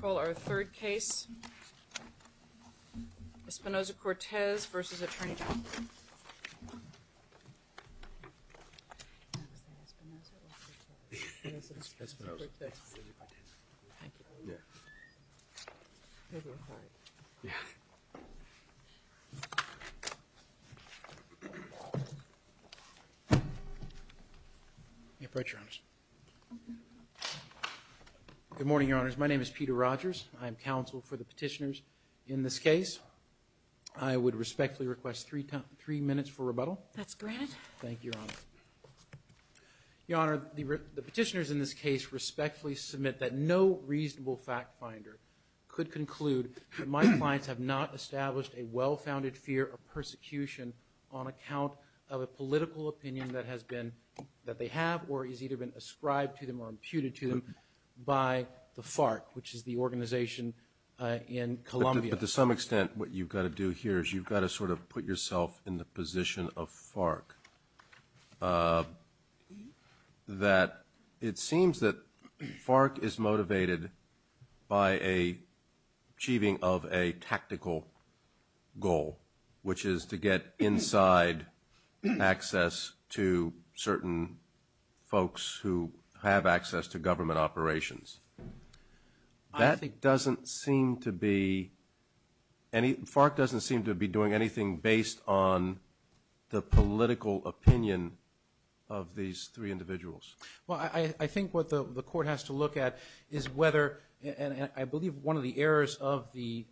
Call our third case, Espinosa-Cortez v. Attorney General. Good morning, Your Honors. My name is Peter Rogers. I am counsel for the petitioners in this case. I would respectfully request three minutes for rebuttal. That's granted. Thank you, Your Honor. Your Honor, the petitioners in this case respectfully submit that no reasonable fact finder could conclude that my clients have not established a well-founded fear of persecution on account of a political opinion that they have or has either been ascribed to them or imputed to them by the FARC, which is the organization in Colombia. But to some extent, what you've got to do here is you've got to sort of put yourself in the position of FARC. It seems that FARC is motivated by achieving of a tactical goal, which is to get inside access to certain folks who have access to government operations. That doesn't seem to be – FARC doesn't seem to be doing anything based on the political opinion of these three individuals. Well, I think what the court has to look at is whether – and I believe one of the errors of the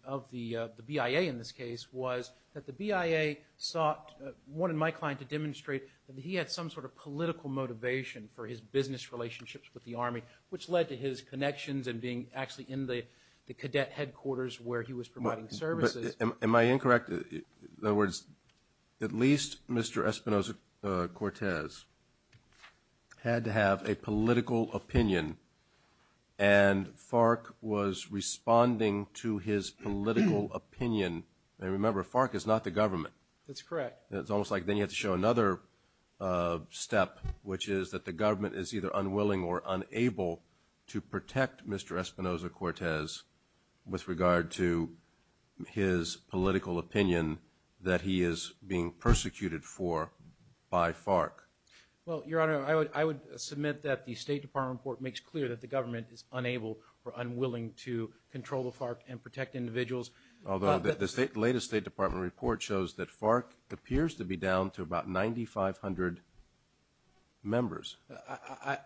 BIA in this case was that the BIA sought – wanted my client to demonstrate that he had some sort of political motivation for his business relationships with the Army, which led to his connections and being actually in the cadet headquarters where he was providing services. Am I incorrect? In other words, at least Mr. Espinosa-Cortez had to have a political opinion, and FARC was responding to his political opinion. And remember, FARC is not the government. That's correct. It's almost like then you have to show another step, which is that the government is either unwilling or unable to protect Mr. Espinosa-Cortez with regard to his political opinion that he is being persecuted for by FARC. Well, Your Honor, I would submit that the State Department report makes clear that the government is unable or unwilling to control the FARC and protect individuals. Although the latest State Department report shows that FARC appears to be down to about 9,500 members.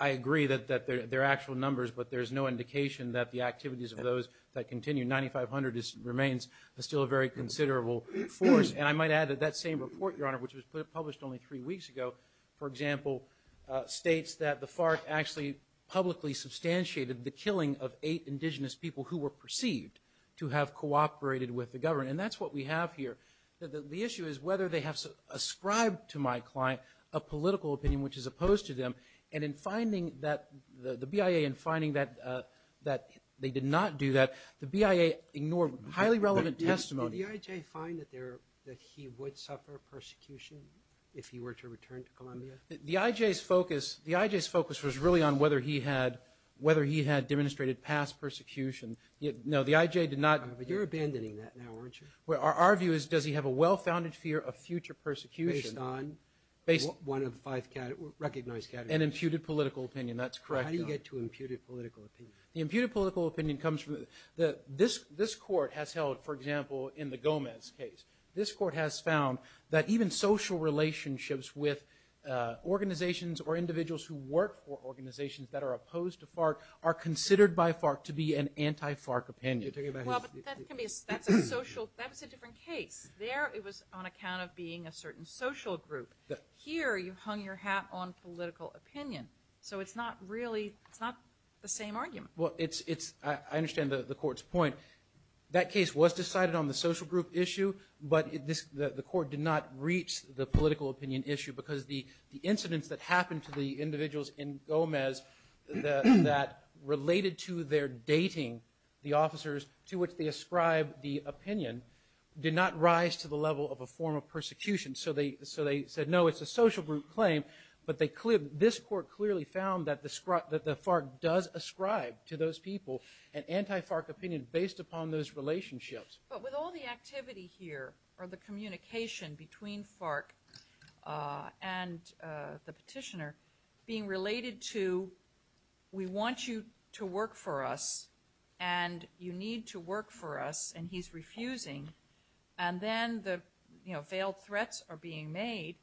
I agree that they're actual numbers, but there's no indication that the activities of those that continue – 9,500 remains still a very considerable force. And I might add that that same report, Your Honor, which was published only three weeks ago, for example, states that the FARC actually publicly substantiated the killing of eight indigenous people who were perceived to have cooperated with the government. And that's what we have here. The issue is whether they have ascribed to my client a political opinion which is opposed to them. And in finding that – the BIA in finding that they did not do that, the BIA ignored highly relevant testimony. Did the IJ find that he would suffer persecution if he were to return to Colombia? The IJ's focus – the IJ's focus was really on whether he had – whether he had demonstrated past persecution. No, the IJ did not – But you're abandoning that now, aren't you? Our view is does he have a well-founded fear of future persecution – Based on one of five recognized categories. And imputed political opinion. That's correct. How do you get to imputed political opinion? The imputed political opinion comes from – this court has held, for example, in the Gomez case, this court has found that even social relationships with organizations or individuals who work for organizations that are opposed to FARC are considered by FARC to be an anti-FARC opinion. Well, but that can be – that's a social – that was a different case. There it was on account of being a certain social group. Here you hung your hat on political opinion. So it's not really – it's not the same argument. Well, it's – I understand the court's point. That case was decided on the social group issue, but the court did not reach the political opinion issue because the incidents that happened to the individuals in Gomez that related to their dating, the officers to which they ascribe the opinion, did not rise to the level of a form of persecution. So they said, no, it's a social group claim. But they – this court clearly found that the FARC does ascribe to those people an anti-FARC opinion based upon those relationships. But with all the activity here or the communication between FARC and the petitioner being related to we want you to work for us and you need to work for us and he's refusing, and then the, you know, failed threats are being made,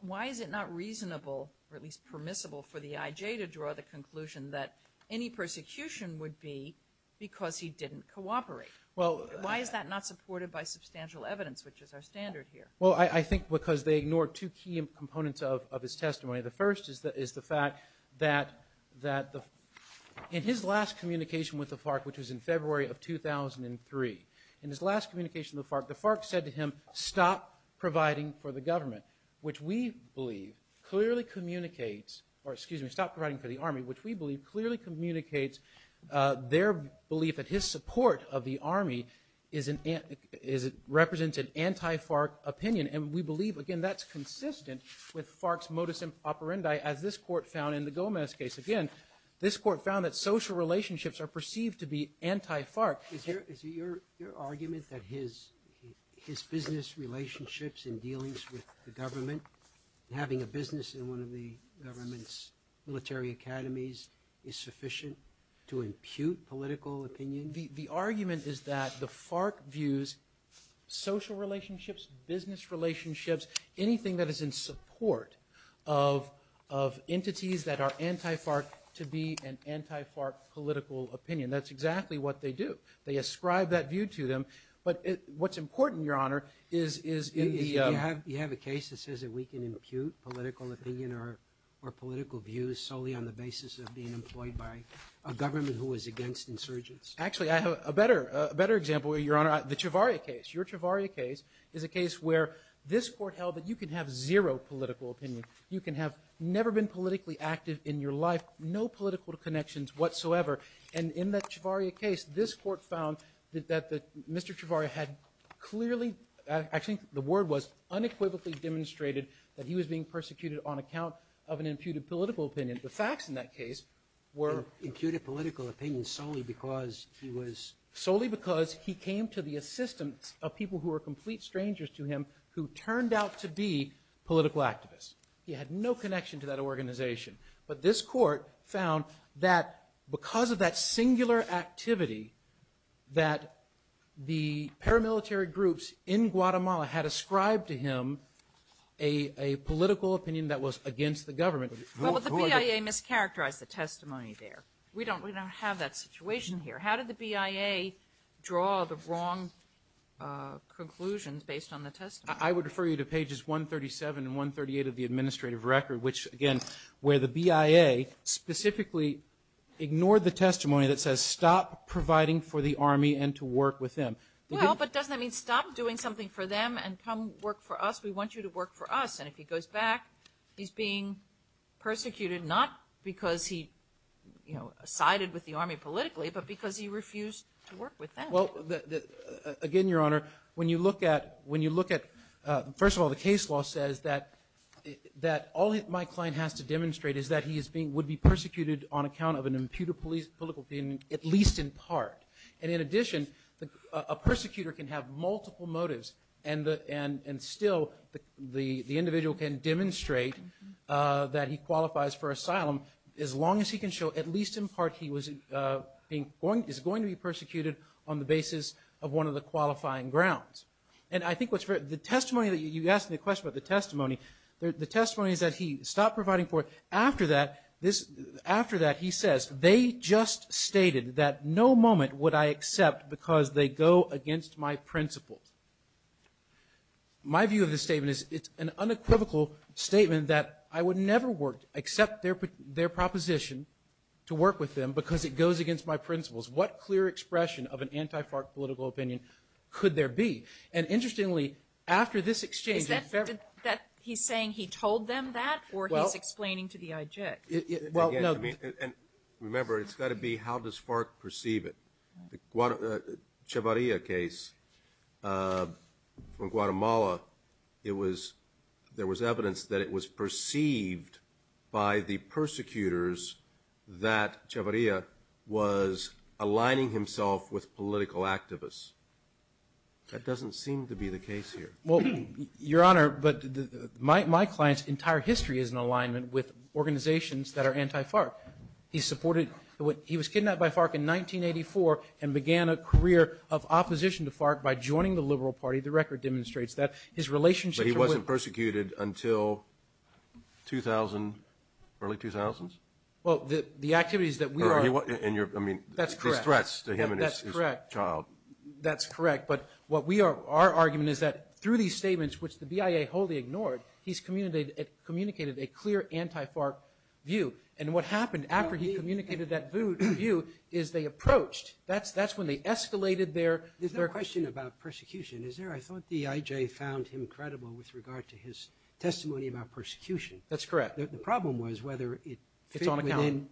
why is it not reasonable or at least permissible for the IJ to draw the conclusion that any persecution would be because he didn't cooperate? Why is that not supported by substantial evidence, which is our standard here? Well, I think because they ignored two key components of his testimony. The first is the fact that in his last communication with the FARC, which was in February of 2003, in his last communication with the FARC, the FARC said to him, stop providing for the government, which we believe clearly communicates – or excuse me, stop providing for the Army, which we believe clearly communicates their belief that his support of the Army represents an anti-FARC opinion. And we believe, again, that's consistent with FARC's modus operandi, as this court found in the Gomez case. Again, this court found that social relationships are perceived to be anti-FARC. Is your argument that his business relationships and dealings with the government, having a business in one of the government's military academies, is sufficient to impute political opinion? The argument is that the FARC views social relationships, business relationships, anything that is in support of entities that are anti-FARC to be an anti-FARC political opinion. That's exactly what they do. They ascribe that view to them. But what's important, Your Honor, is in the – You have a case that says that we can impute political opinion or political views solely on the basis of being employed by a government who is against insurgents. Actually, I have a better example, Your Honor. The Ciavaria case. Your Ciavaria case is a case where this court held that you can have zero political opinion. You can have never been politically active in your life, no political connections whatsoever. And in that Ciavaria case, this court found that Mr. Ciavaria had clearly – actually, the word was unequivocally demonstrated that he was being persecuted on account of an imputed political opinion. The facts in that case were – Imputed political opinion solely because he was – Solely because he came to the assistance of people who were complete strangers to him who turned out to be political activists. He had no connection to that organization. But this court found that because of that singular activity, that the paramilitary groups in Guatemala had ascribed to him a political opinion that was against the government. Well, but the BIA mischaracterized the testimony there. We don't have that situation here. How did the BIA draw the wrong conclusions based on the testimony? I would refer you to pages 137 and 138 of the administrative record, which, again, where the BIA specifically ignored the testimony that says, stop providing for the Army and to work with them. Well, but doesn't that mean stop doing something for them and come work for us? We want you to work for us. And if he goes back, he's being persecuted, not because he sided with the Army politically, but because he refused to work with them. Well, again, Your Honor, when you look at – is that he would be persecuted on account of an imputed political opinion, at least in part. And in addition, a persecutor can have multiple motives, and still the individual can demonstrate that he qualifies for asylum as long as he can show, at least in part, he is going to be persecuted on the basis of one of the qualifying grounds. And I think what's – the testimony that – you asked me a question about the testimony. The testimony is that he stopped providing for – after that, he says, they just stated that no moment would I accept because they go against my principles. My view of the statement is it's an unequivocal statement that I would never accept their proposition to work with them because it goes against my principles. What clear expression of an anti-FARC political opinion could there be? And interestingly, after this exchange in February – Is that – he's saying he told them that or he's explaining to the IJIC? Well, no – Again, I mean – and remember, it's got to be how does FARC perceive it. The Chavarria case from Guatemala, it was – there was evidence that it was perceived by the persecutors that Chavarria was aligning himself with political activists. That doesn't seem to be the case here. Well, Your Honor, but my client's entire history is in alignment with organizations that are anti-FARC. He supported – he was kidnapped by FARC in 1984 and began a career of opposition to FARC by joining the Liberal Party. The record demonstrates that. His relationship – But he wasn't persecuted until 2000 – early 2000s? Well, the activities that we are – And you're – I mean – That's correct. These threats to him and his child. That's correct. But what we are – our argument is that through these statements, which the BIA wholly ignored, he's communicated a clear anti-FARC view. And what happened after he communicated that view is they approached. That's when they escalated their – There's no question about persecution, is there? I thought the IJ found him credible with regard to his testimony about persecution. That's correct. The problem was whether it fit within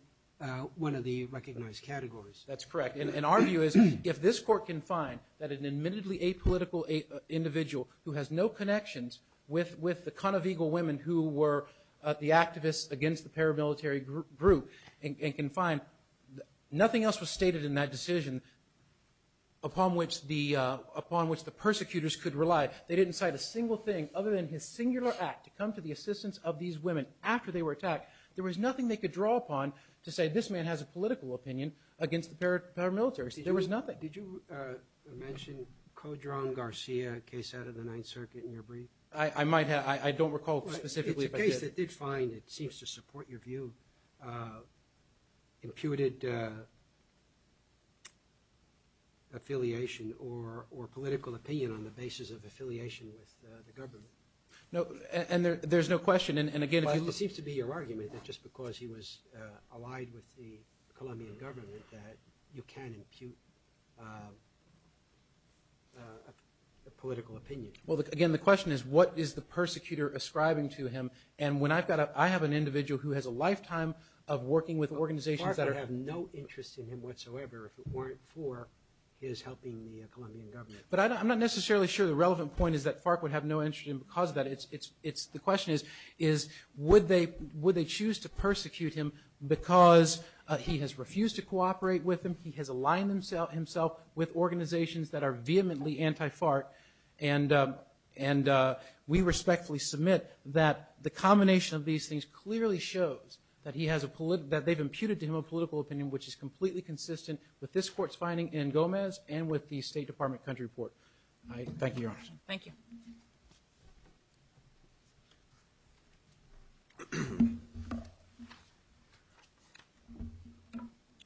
one of the recognized categories. That's correct. And our view is if this court can find that an admittedly apolitical individual who has no connections with the con of eagle women who were the activists against the paramilitary group and can find nothing else was stated in that decision upon which the – upon which the persecutors could rely. They didn't cite a single thing other than his singular act to come to the assistance of these women after they were attacked. There was nothing they could draw upon to say this man has a political opinion against the paramilitaries. There was nothing. Did you mention Codron Garcia, a case out of the Ninth Circuit, in your brief? I might have. I don't recall specifically. It's a case that did find, it seems to support your view, imputed affiliation or political opinion on the basis of affiliation with the government. And there's no question. And, again, if you – if you say that just because he was allied with the Colombian government that you can't impute a political opinion. Well, again, the question is what is the persecutor ascribing to him? And when I've got a – I have an individual who has a lifetime of working with organizations that are – Well, FARC would have no interest in him whatsoever if it weren't for his helping the Colombian government. But I'm not necessarily sure the relevant point is that FARC would have no interest in him because of that. The question is would they choose to persecute him because he has refused to cooperate with them, he has aligned himself with organizations that are vehemently anti-FARC, and we respectfully submit that the combination of these things clearly shows that he has a – that they've imputed to him a political opinion which is completely consistent with this court's finding in Gomez and with the State Department country report. Thank you, Your Honor. Thank you. Thank you.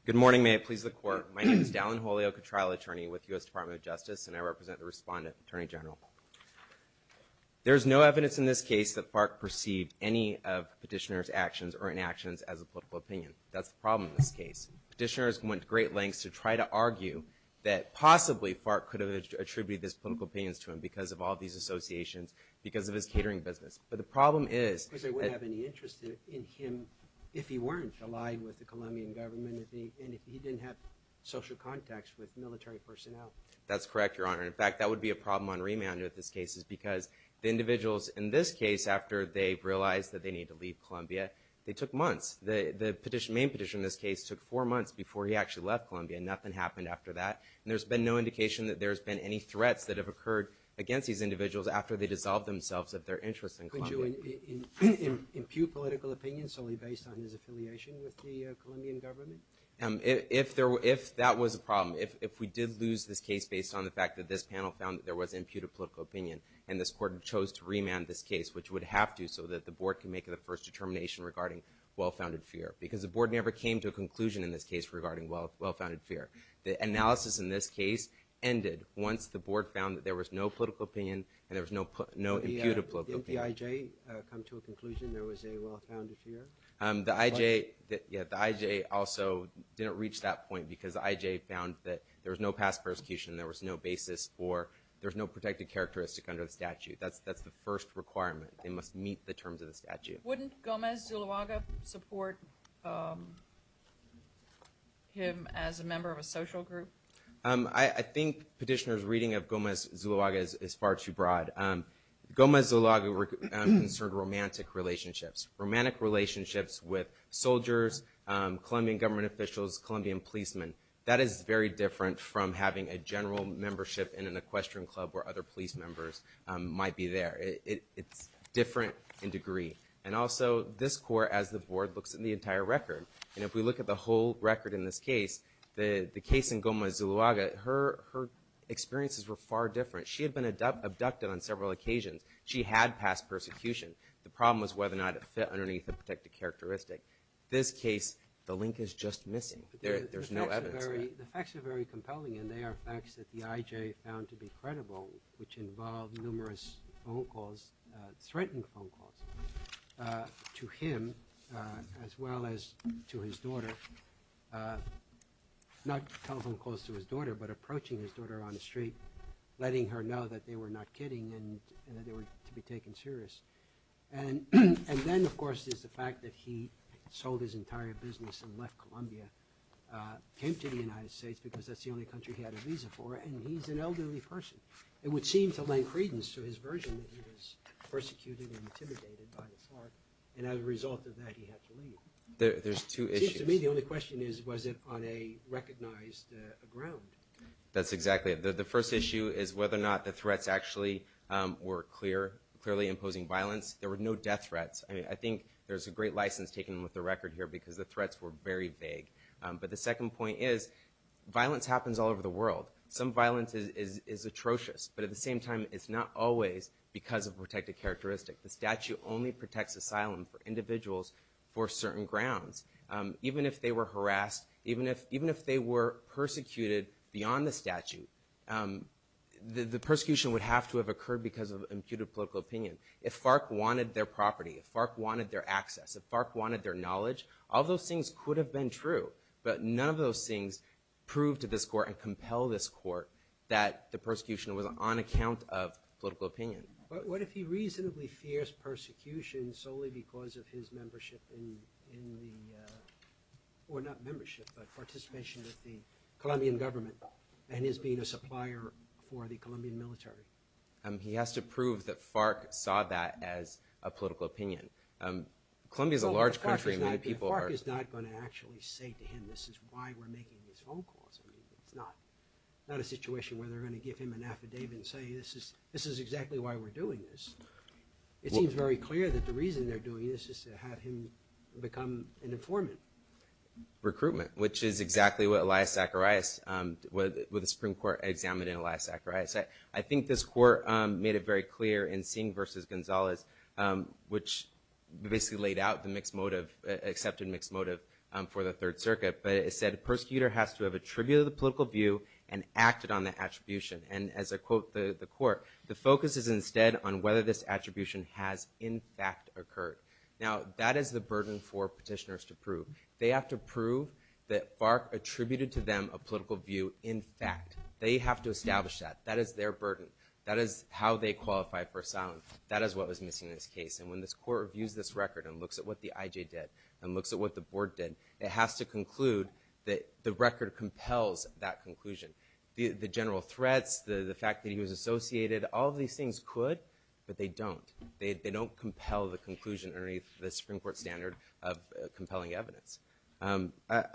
Good morning. May it please the Court. My name is Dallin Jolio, a trial attorney with the U.S. Department of Justice, and I represent the respondent, Attorney General. There is no evidence in this case that FARC perceived any of Petitioner's actions or inactions as a political opinion. That's the problem in this case. Petitioners went to great lengths to try to argue that possibly FARC could have attributed these political opinions to him because of all these associations, because of his catering business. But the problem is that— Because they wouldn't have any interest in him if he weren't aligned with the Colombian government and if he didn't have social contacts with military personnel. That's correct, Your Honor. In fact, that would be a problem on remand with this case is because the individuals in this case, after they realized that they need to leave Colombia, they took months. The petition – main petition in this case took four months before he actually left Colombia, and nothing happened after that. And there's been no indication that there's been any threats that have occurred against these individuals after they dissolved themselves of their interest in Colombia. Could you impute political opinions solely based on his affiliation with the Colombian government? If that was a problem, if we did lose this case based on the fact that this panel found that there was imputed political opinion and this court chose to remand this case, which would have to so that the board can make the first determination regarding well-founded fear. Because the board never came to a conclusion in this case regarding well-founded fear. The analysis in this case ended once the board found that there was no political opinion and there was no imputed political opinion. Didn't the IJ come to a conclusion there was a well-founded fear? The IJ – yeah, the IJ also didn't reach that point because the IJ found that there was no past persecution, there was no basis for – there's no protected characteristic under the statute. That's the first requirement. They must meet the terms of the statute. Wouldn't Gomez Zuluaga support him as a member of a social group? I think Petitioner's reading of Gomez Zuluaga is far too broad. Gomez Zuluaga concerned romantic relationships, romantic relationships with soldiers, Colombian government officials, Colombian policemen. That is very different from having a general membership in an equestrian club where other police members might be there. It's different in degree. And also this court, as the board, looks at the entire record. And if we look at the whole record in this case, the case in Gomez Zuluaga, her experiences were far different. She had been abducted on several occasions. She had past persecution. The problem was whether or not it fit underneath the protected characteristic. This case, the link is just missing. There's no evidence there. The facts are very compelling and they are facts that the IJ found to be credible which involved numerous phone calls, threatened phone calls to him as well as to his daughter, not telephone calls to his daughter but approaching his daughter on the street, letting her know that they were not kidding and that they were to be taken serious. And then, of course, is the fact that he sold his entire business and left Colombia, came to the United States because that's the only country he had a visa for, and he's an elderly person. It would seem to lay credence to his version that he was persecuted and intimidated by his heart. And as a result of that, he had to leave. There's two issues. It seems to me the only question is was it on a recognized ground. That's exactly it. The first issue is whether or not the threats actually were clearly imposing violence. There were no death threats. I think there's a great license taken with the record here because the threats were very vague. But the second point is violence happens all over the world. Some violence is atrocious. But at the same time, it's not always because of protected characteristic. The statute only protects asylum for individuals for certain grounds. Even if they were harassed, even if they were persecuted beyond the statute, the persecution would have to have occurred because of imputed political opinion. If FARC wanted their property, if FARC wanted their access, if FARC wanted their knowledge, all those things could have been true. But none of those things prove to this court and compel this court that the persecution was on account of political opinion. But what if he reasonably fears persecution solely because of his membership in the— or not membership, but participation with the Colombian government and his being a supplier for the Colombian military? He has to prove that FARC saw that as a political opinion. Colombia is a large country. FARC is not going to actually say to him, this is why we're making these phone calls. It's not a situation where they're going to give him an affidavit and say, this is exactly why we're doing this. It seems very clear that the reason they're doing this is to have him become an informant. Recruitment, which is exactly what Elias Zacharias, what the Supreme Court examined in Elias Zacharias. I think this court made it very clear in Singh v. Gonzalez, which basically laid out the mixed motive, accepted mixed motive for the Third Circuit. But it said the persecutor has to have attributed the political view and acted on the attribution. And as I quote the court, the focus is instead on whether this attribution has in fact occurred. Now, that is the burden for petitioners to prove. They have to prove that FARC attributed to them a political view in fact. They have to establish that. That is their burden. That is how they qualify for asylum. That is what was missing in this case. And when this court reviews this record and looks at what the IJ did and looks at what the board did, it has to conclude that the record compels that conclusion. The general threats, the fact that he was associated, all of these things could, but they don't. They don't compel the conclusion underneath the Supreme Court standard of compelling evidence. I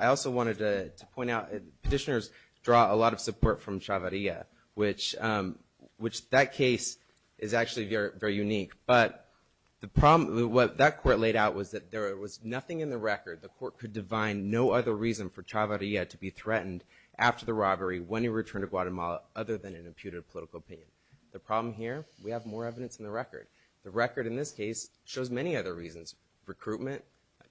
also wanted to point out petitioners draw a lot of support from Chavarria, which that case is actually very unique. But the problem, what that court laid out was that there was nothing in the record, the court could divine no other reason for Chavarria to be threatened after the robbery when he returned to Guatemala other than an imputed political opinion. The problem here, we have more evidence in the record. The record in this case shows many other reasons, recruitment,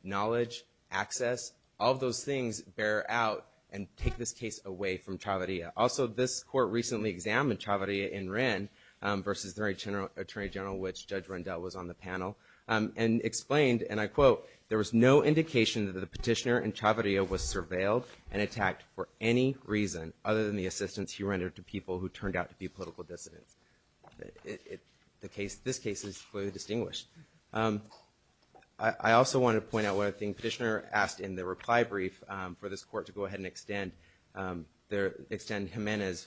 knowledge, access. All of those things bear out and take this case away from Chavarria. Also, this court recently examined Chavarria in Wren versus the Attorney General, which Judge Rendell was on the panel, and explained, and I quote, there was no indication that the petitioner in Chavarria was surveilled and attacked for any reason other than the assistance he rendered to people who turned out to be political dissidents. This case is clearly distinguished. I also wanted to point out one other thing. to go ahead and extend Ximena's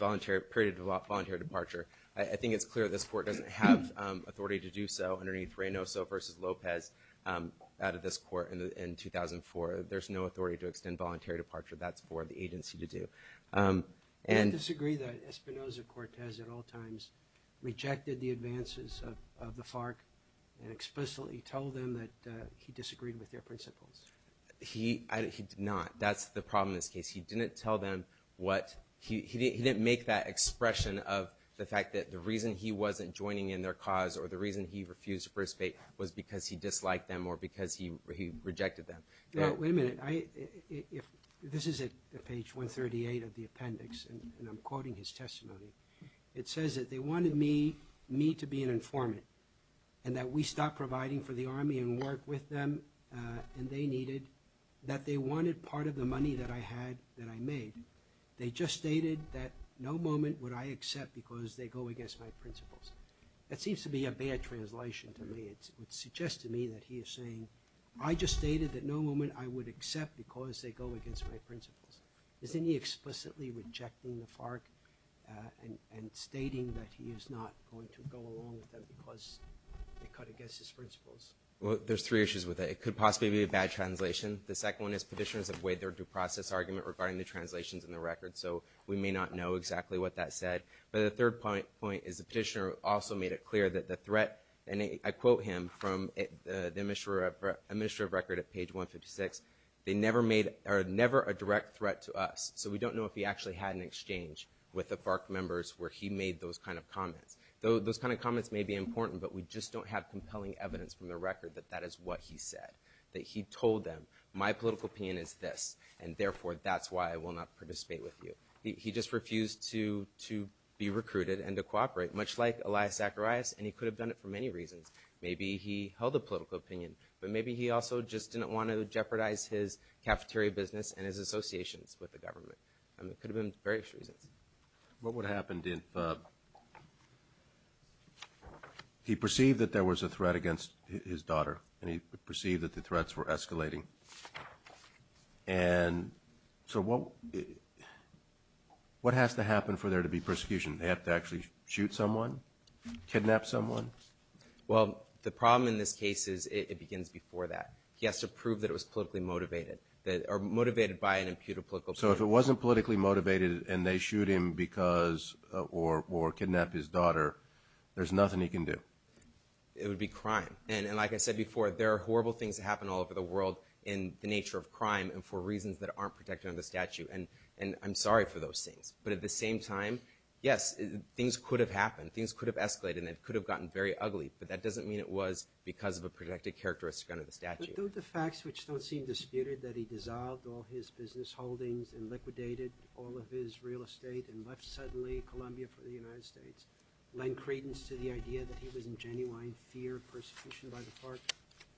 period of voluntary departure. I think it's clear this court doesn't have authority to do so underneath Reynoso versus Lopez out of this court in 2004. There's no authority to extend voluntary departure. That's for the agency to do. Do you disagree that Espinoza-Cortez at all times rejected the advances of the FARC and explicitly told them that he disagreed with their principles? He did not. That's the problem in this case. He didn't make that expression of the fact that the reason he wasn't joining in their cause or the reason he refused to participate was because he disliked them or because he rejected them. Wait a minute. This is at page 138 of the appendix, and I'm quoting his testimony. It says that they wanted me to be an informant and that we stop providing for the Army and work with them, and they needed, that they wanted part of the money that I had that I made. They just stated that no moment would I accept because they go against my principles. That seems to be a bad translation to me. It would suggest to me that he is saying, I just stated that no moment I would accept because they go against my principles. Isn't he explicitly rejecting the FARC and stating that he is not going to go along with them because they cut against his principles? Well, there's three issues with that. It could possibly be a bad translation. The second one is petitioners have weighed their due process argument regarding the translations in the record, so we may not know exactly what that said. But the third point is the petitioner also made it clear that the threat, and I quote him from the Administrative Record at page 156, they never made, or never a direct threat to us, so we don't know if he actually had an exchange with the FARC members where he made those kind of comments. Those kind of comments may be important, but we just don't have compelling evidence from the record that that is what he said, that he told them, my political opinion is this, and therefore that's why I will not participate with you. He just refused to be recruited and to cooperate, much like Elias Zacharias, and he could have done it for many reasons. Maybe he held a political opinion, but maybe he also just didn't want to jeopardize his cafeteria business and his associations with the government. It could have been various reasons. What would happen if he perceived that there was a threat against his daughter and he perceived that the threats were escalating? And so what has to happen for there to be persecution? They have to actually shoot someone, kidnap someone? Well, the problem in this case is it begins before that. He has to prove that it was politically motivated or motivated by an imputed political opinion. So if it wasn't politically motivated and they shoot him because or kidnap his daughter, there's nothing he can do? It would be crime. And like I said before, there are horrible things that happen all over the world in the nature of crime and for reasons that aren't protected under the statute, and I'm sorry for those things. But at the same time, yes, things could have happened, things could have escalated, and it could have gotten very ugly, but that doesn't mean it was because of a protected characteristic under the statute. Don't the facts, which don't seem disputed, that he dissolved all his business holdings and liquidated all of his real estate and left suddenly Colombia for the United States, lend credence to the idea that he was in genuine fear of persecution by the FARC?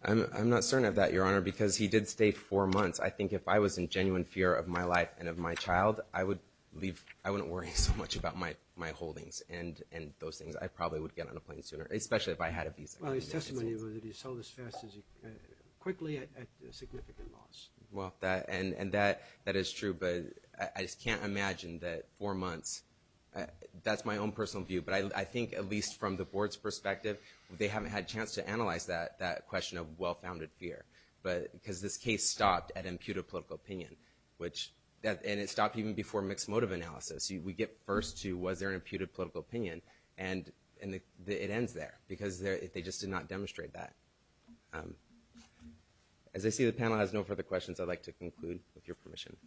I'm not certain of that, Your Honor, because he did stay four months. I think if I was in genuine fear of my life and of my child, I wouldn't worry so much about my holdings and those things. I probably would get on a plane sooner, especially if I had a visa. Well, his testimony was that he sold as fast as he could quickly at significant loss. Well, and that is true, but I just can't imagine that four months, that's my own personal view, but I think at least from the Board's perspective, they haven't had a chance to analyze that question of well-founded fear because this case stopped at imputed political opinion, and it stopped even before mixed motive analysis. We get first to was there an imputed political opinion, and it ends there because they just did not demonstrate that. As I see the panel has no further questions, I'd like to conclude with your permission.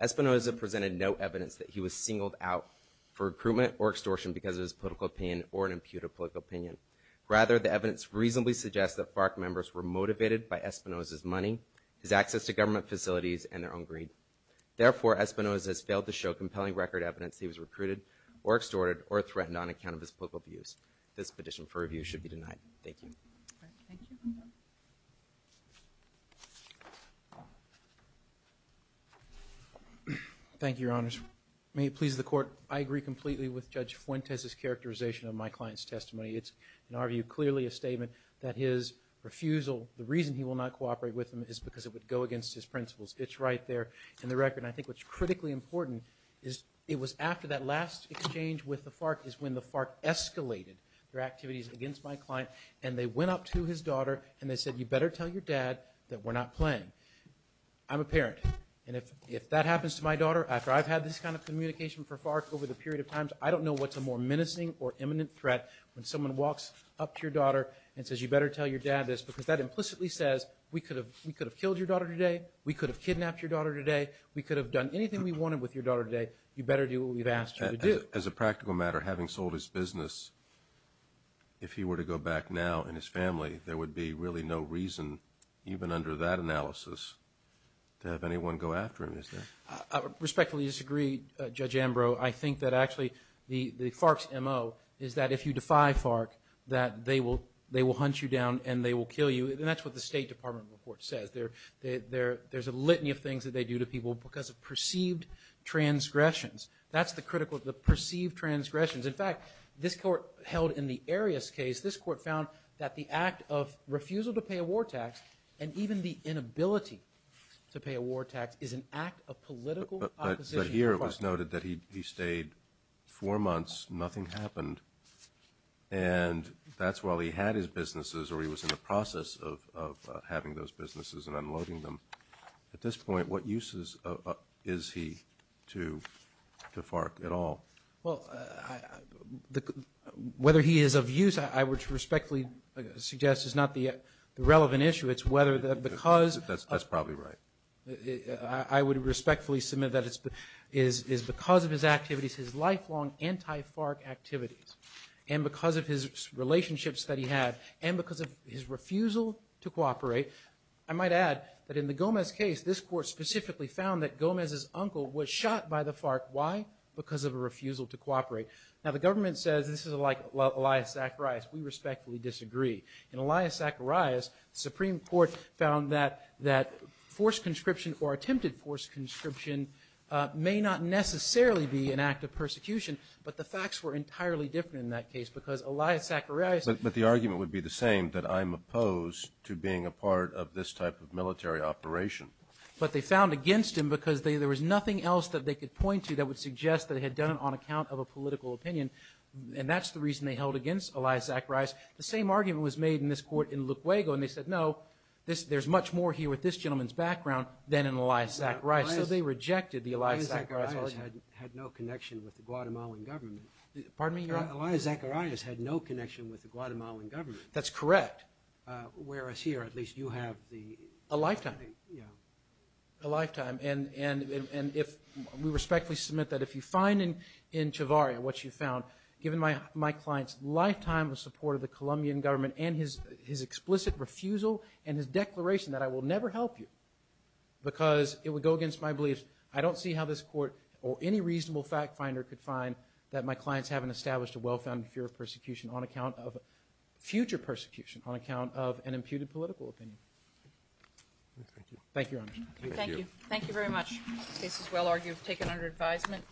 Espinoza presented no evidence that he was singled out for recruitment or extortion because of his political opinion or an imputed political opinion. Rather, the evidence reasonably suggests that FARC members were motivated by Espinoza's money, his access to government facilities, and their own greed. Therefore, Espinoza has failed to show compelling record evidence he was recruited or extorted or threatened on account of his political views. This petition for review should be denied. Thank you. Thank you. Thank you, Your Honors. May it please the Court. I agree completely with Judge Fuentes' characterization of my client's testimony. It's, in our view, clearly a statement that his refusal, the reason he will not cooperate with him, is because it would go against his principles. It's right there in the record. And I think what's critically important is it was after that last exchange with the FARC is when the FARC escalated their activities against my client. And they went up to his daughter and they said, you better tell your dad that we're not playing. I'm a parent, and if that happens to my daughter, after I've had this kind of communication for FARC over the period of times, I don't know what's a more menacing or imminent threat when someone walks up to your daughter and says, you better tell your dad this, because that implicitly says, we could have killed your daughter today, we could have kidnapped your daughter today, we could have done anything we wanted with your daughter today, you better do what we've asked you to do. As a practical matter, having sold his business, if he were to go back now and his family, there would be really no reason, even under that analysis, to have anyone go after him, is there? Respectfully disagree, Judge Ambrose. I think that actually the FARC's M.O. is that if you defy FARC, that they will hunt you down and they will kill you. And that's what the State Department report says. There's a litany of things that they do to people because of perceived transgressions. That's the critical, the perceived transgressions. In fact, this court held in the Arias case, this court found that the act of refusal to pay a war tax and even the inability to pay a war tax is an act of political opposition. But here it was noted that he stayed four months, nothing happened, and that's while he had his businesses or he was in the process of having those businesses and unloading them. At this point, what uses is he to FARC at all? Well, whether he is of use, I would respectfully suggest, is not the relevant issue. It's whether that because of – That's probably right. I would respectfully submit that it's because of his activities, his lifelong anti-FARC activities, and because of his relationships that he had, and because of his refusal to cooperate. I might add that in the Gomez case, this court specifically found that Gomez's uncle was shot by the FARC. Why? Because of a refusal to cooperate. Now, the government says this is like Elias Zacharias. We respectfully disagree. In Elias Zacharias, the Supreme Court found that forced conscription or attempted forced conscription may not necessarily be an act of persecution, but the facts were entirely different in that case because Elias Zacharias – But the argument would be the same, that I'm opposed to being a part of this type of military operation. But they found against him because there was nothing else that they could point to that would suggest that he had done it on account of a political opinion, and that's the reason they held against Elias Zacharias. The same argument was made in this court in Luquego, and they said, no, there's much more here with this gentleman's background than in Elias Zacharias. So they rejected the Elias Zacharias argument. Elias Zacharias had no connection with the Guatemalan government. Pardon me? Elias Zacharias had no connection with the Guatemalan government. That's correct. Whereas here, at least you have the – A lifetime. Yeah. A lifetime. And we respectfully submit that if you find in Chavarria what you found, given my client's lifetime of support of the Colombian government and his explicit refusal and his declaration that I will never help you because it would go against my beliefs, I don't see how this court or any reasonable fact finder could find that my client's haven't established a well-founded fear of persecution on account of – future persecution on account of an imputed political opinion. Thank you. Thank you, Your Honor. Thank you. Thank you very much. The case is well argued, taken under advisement.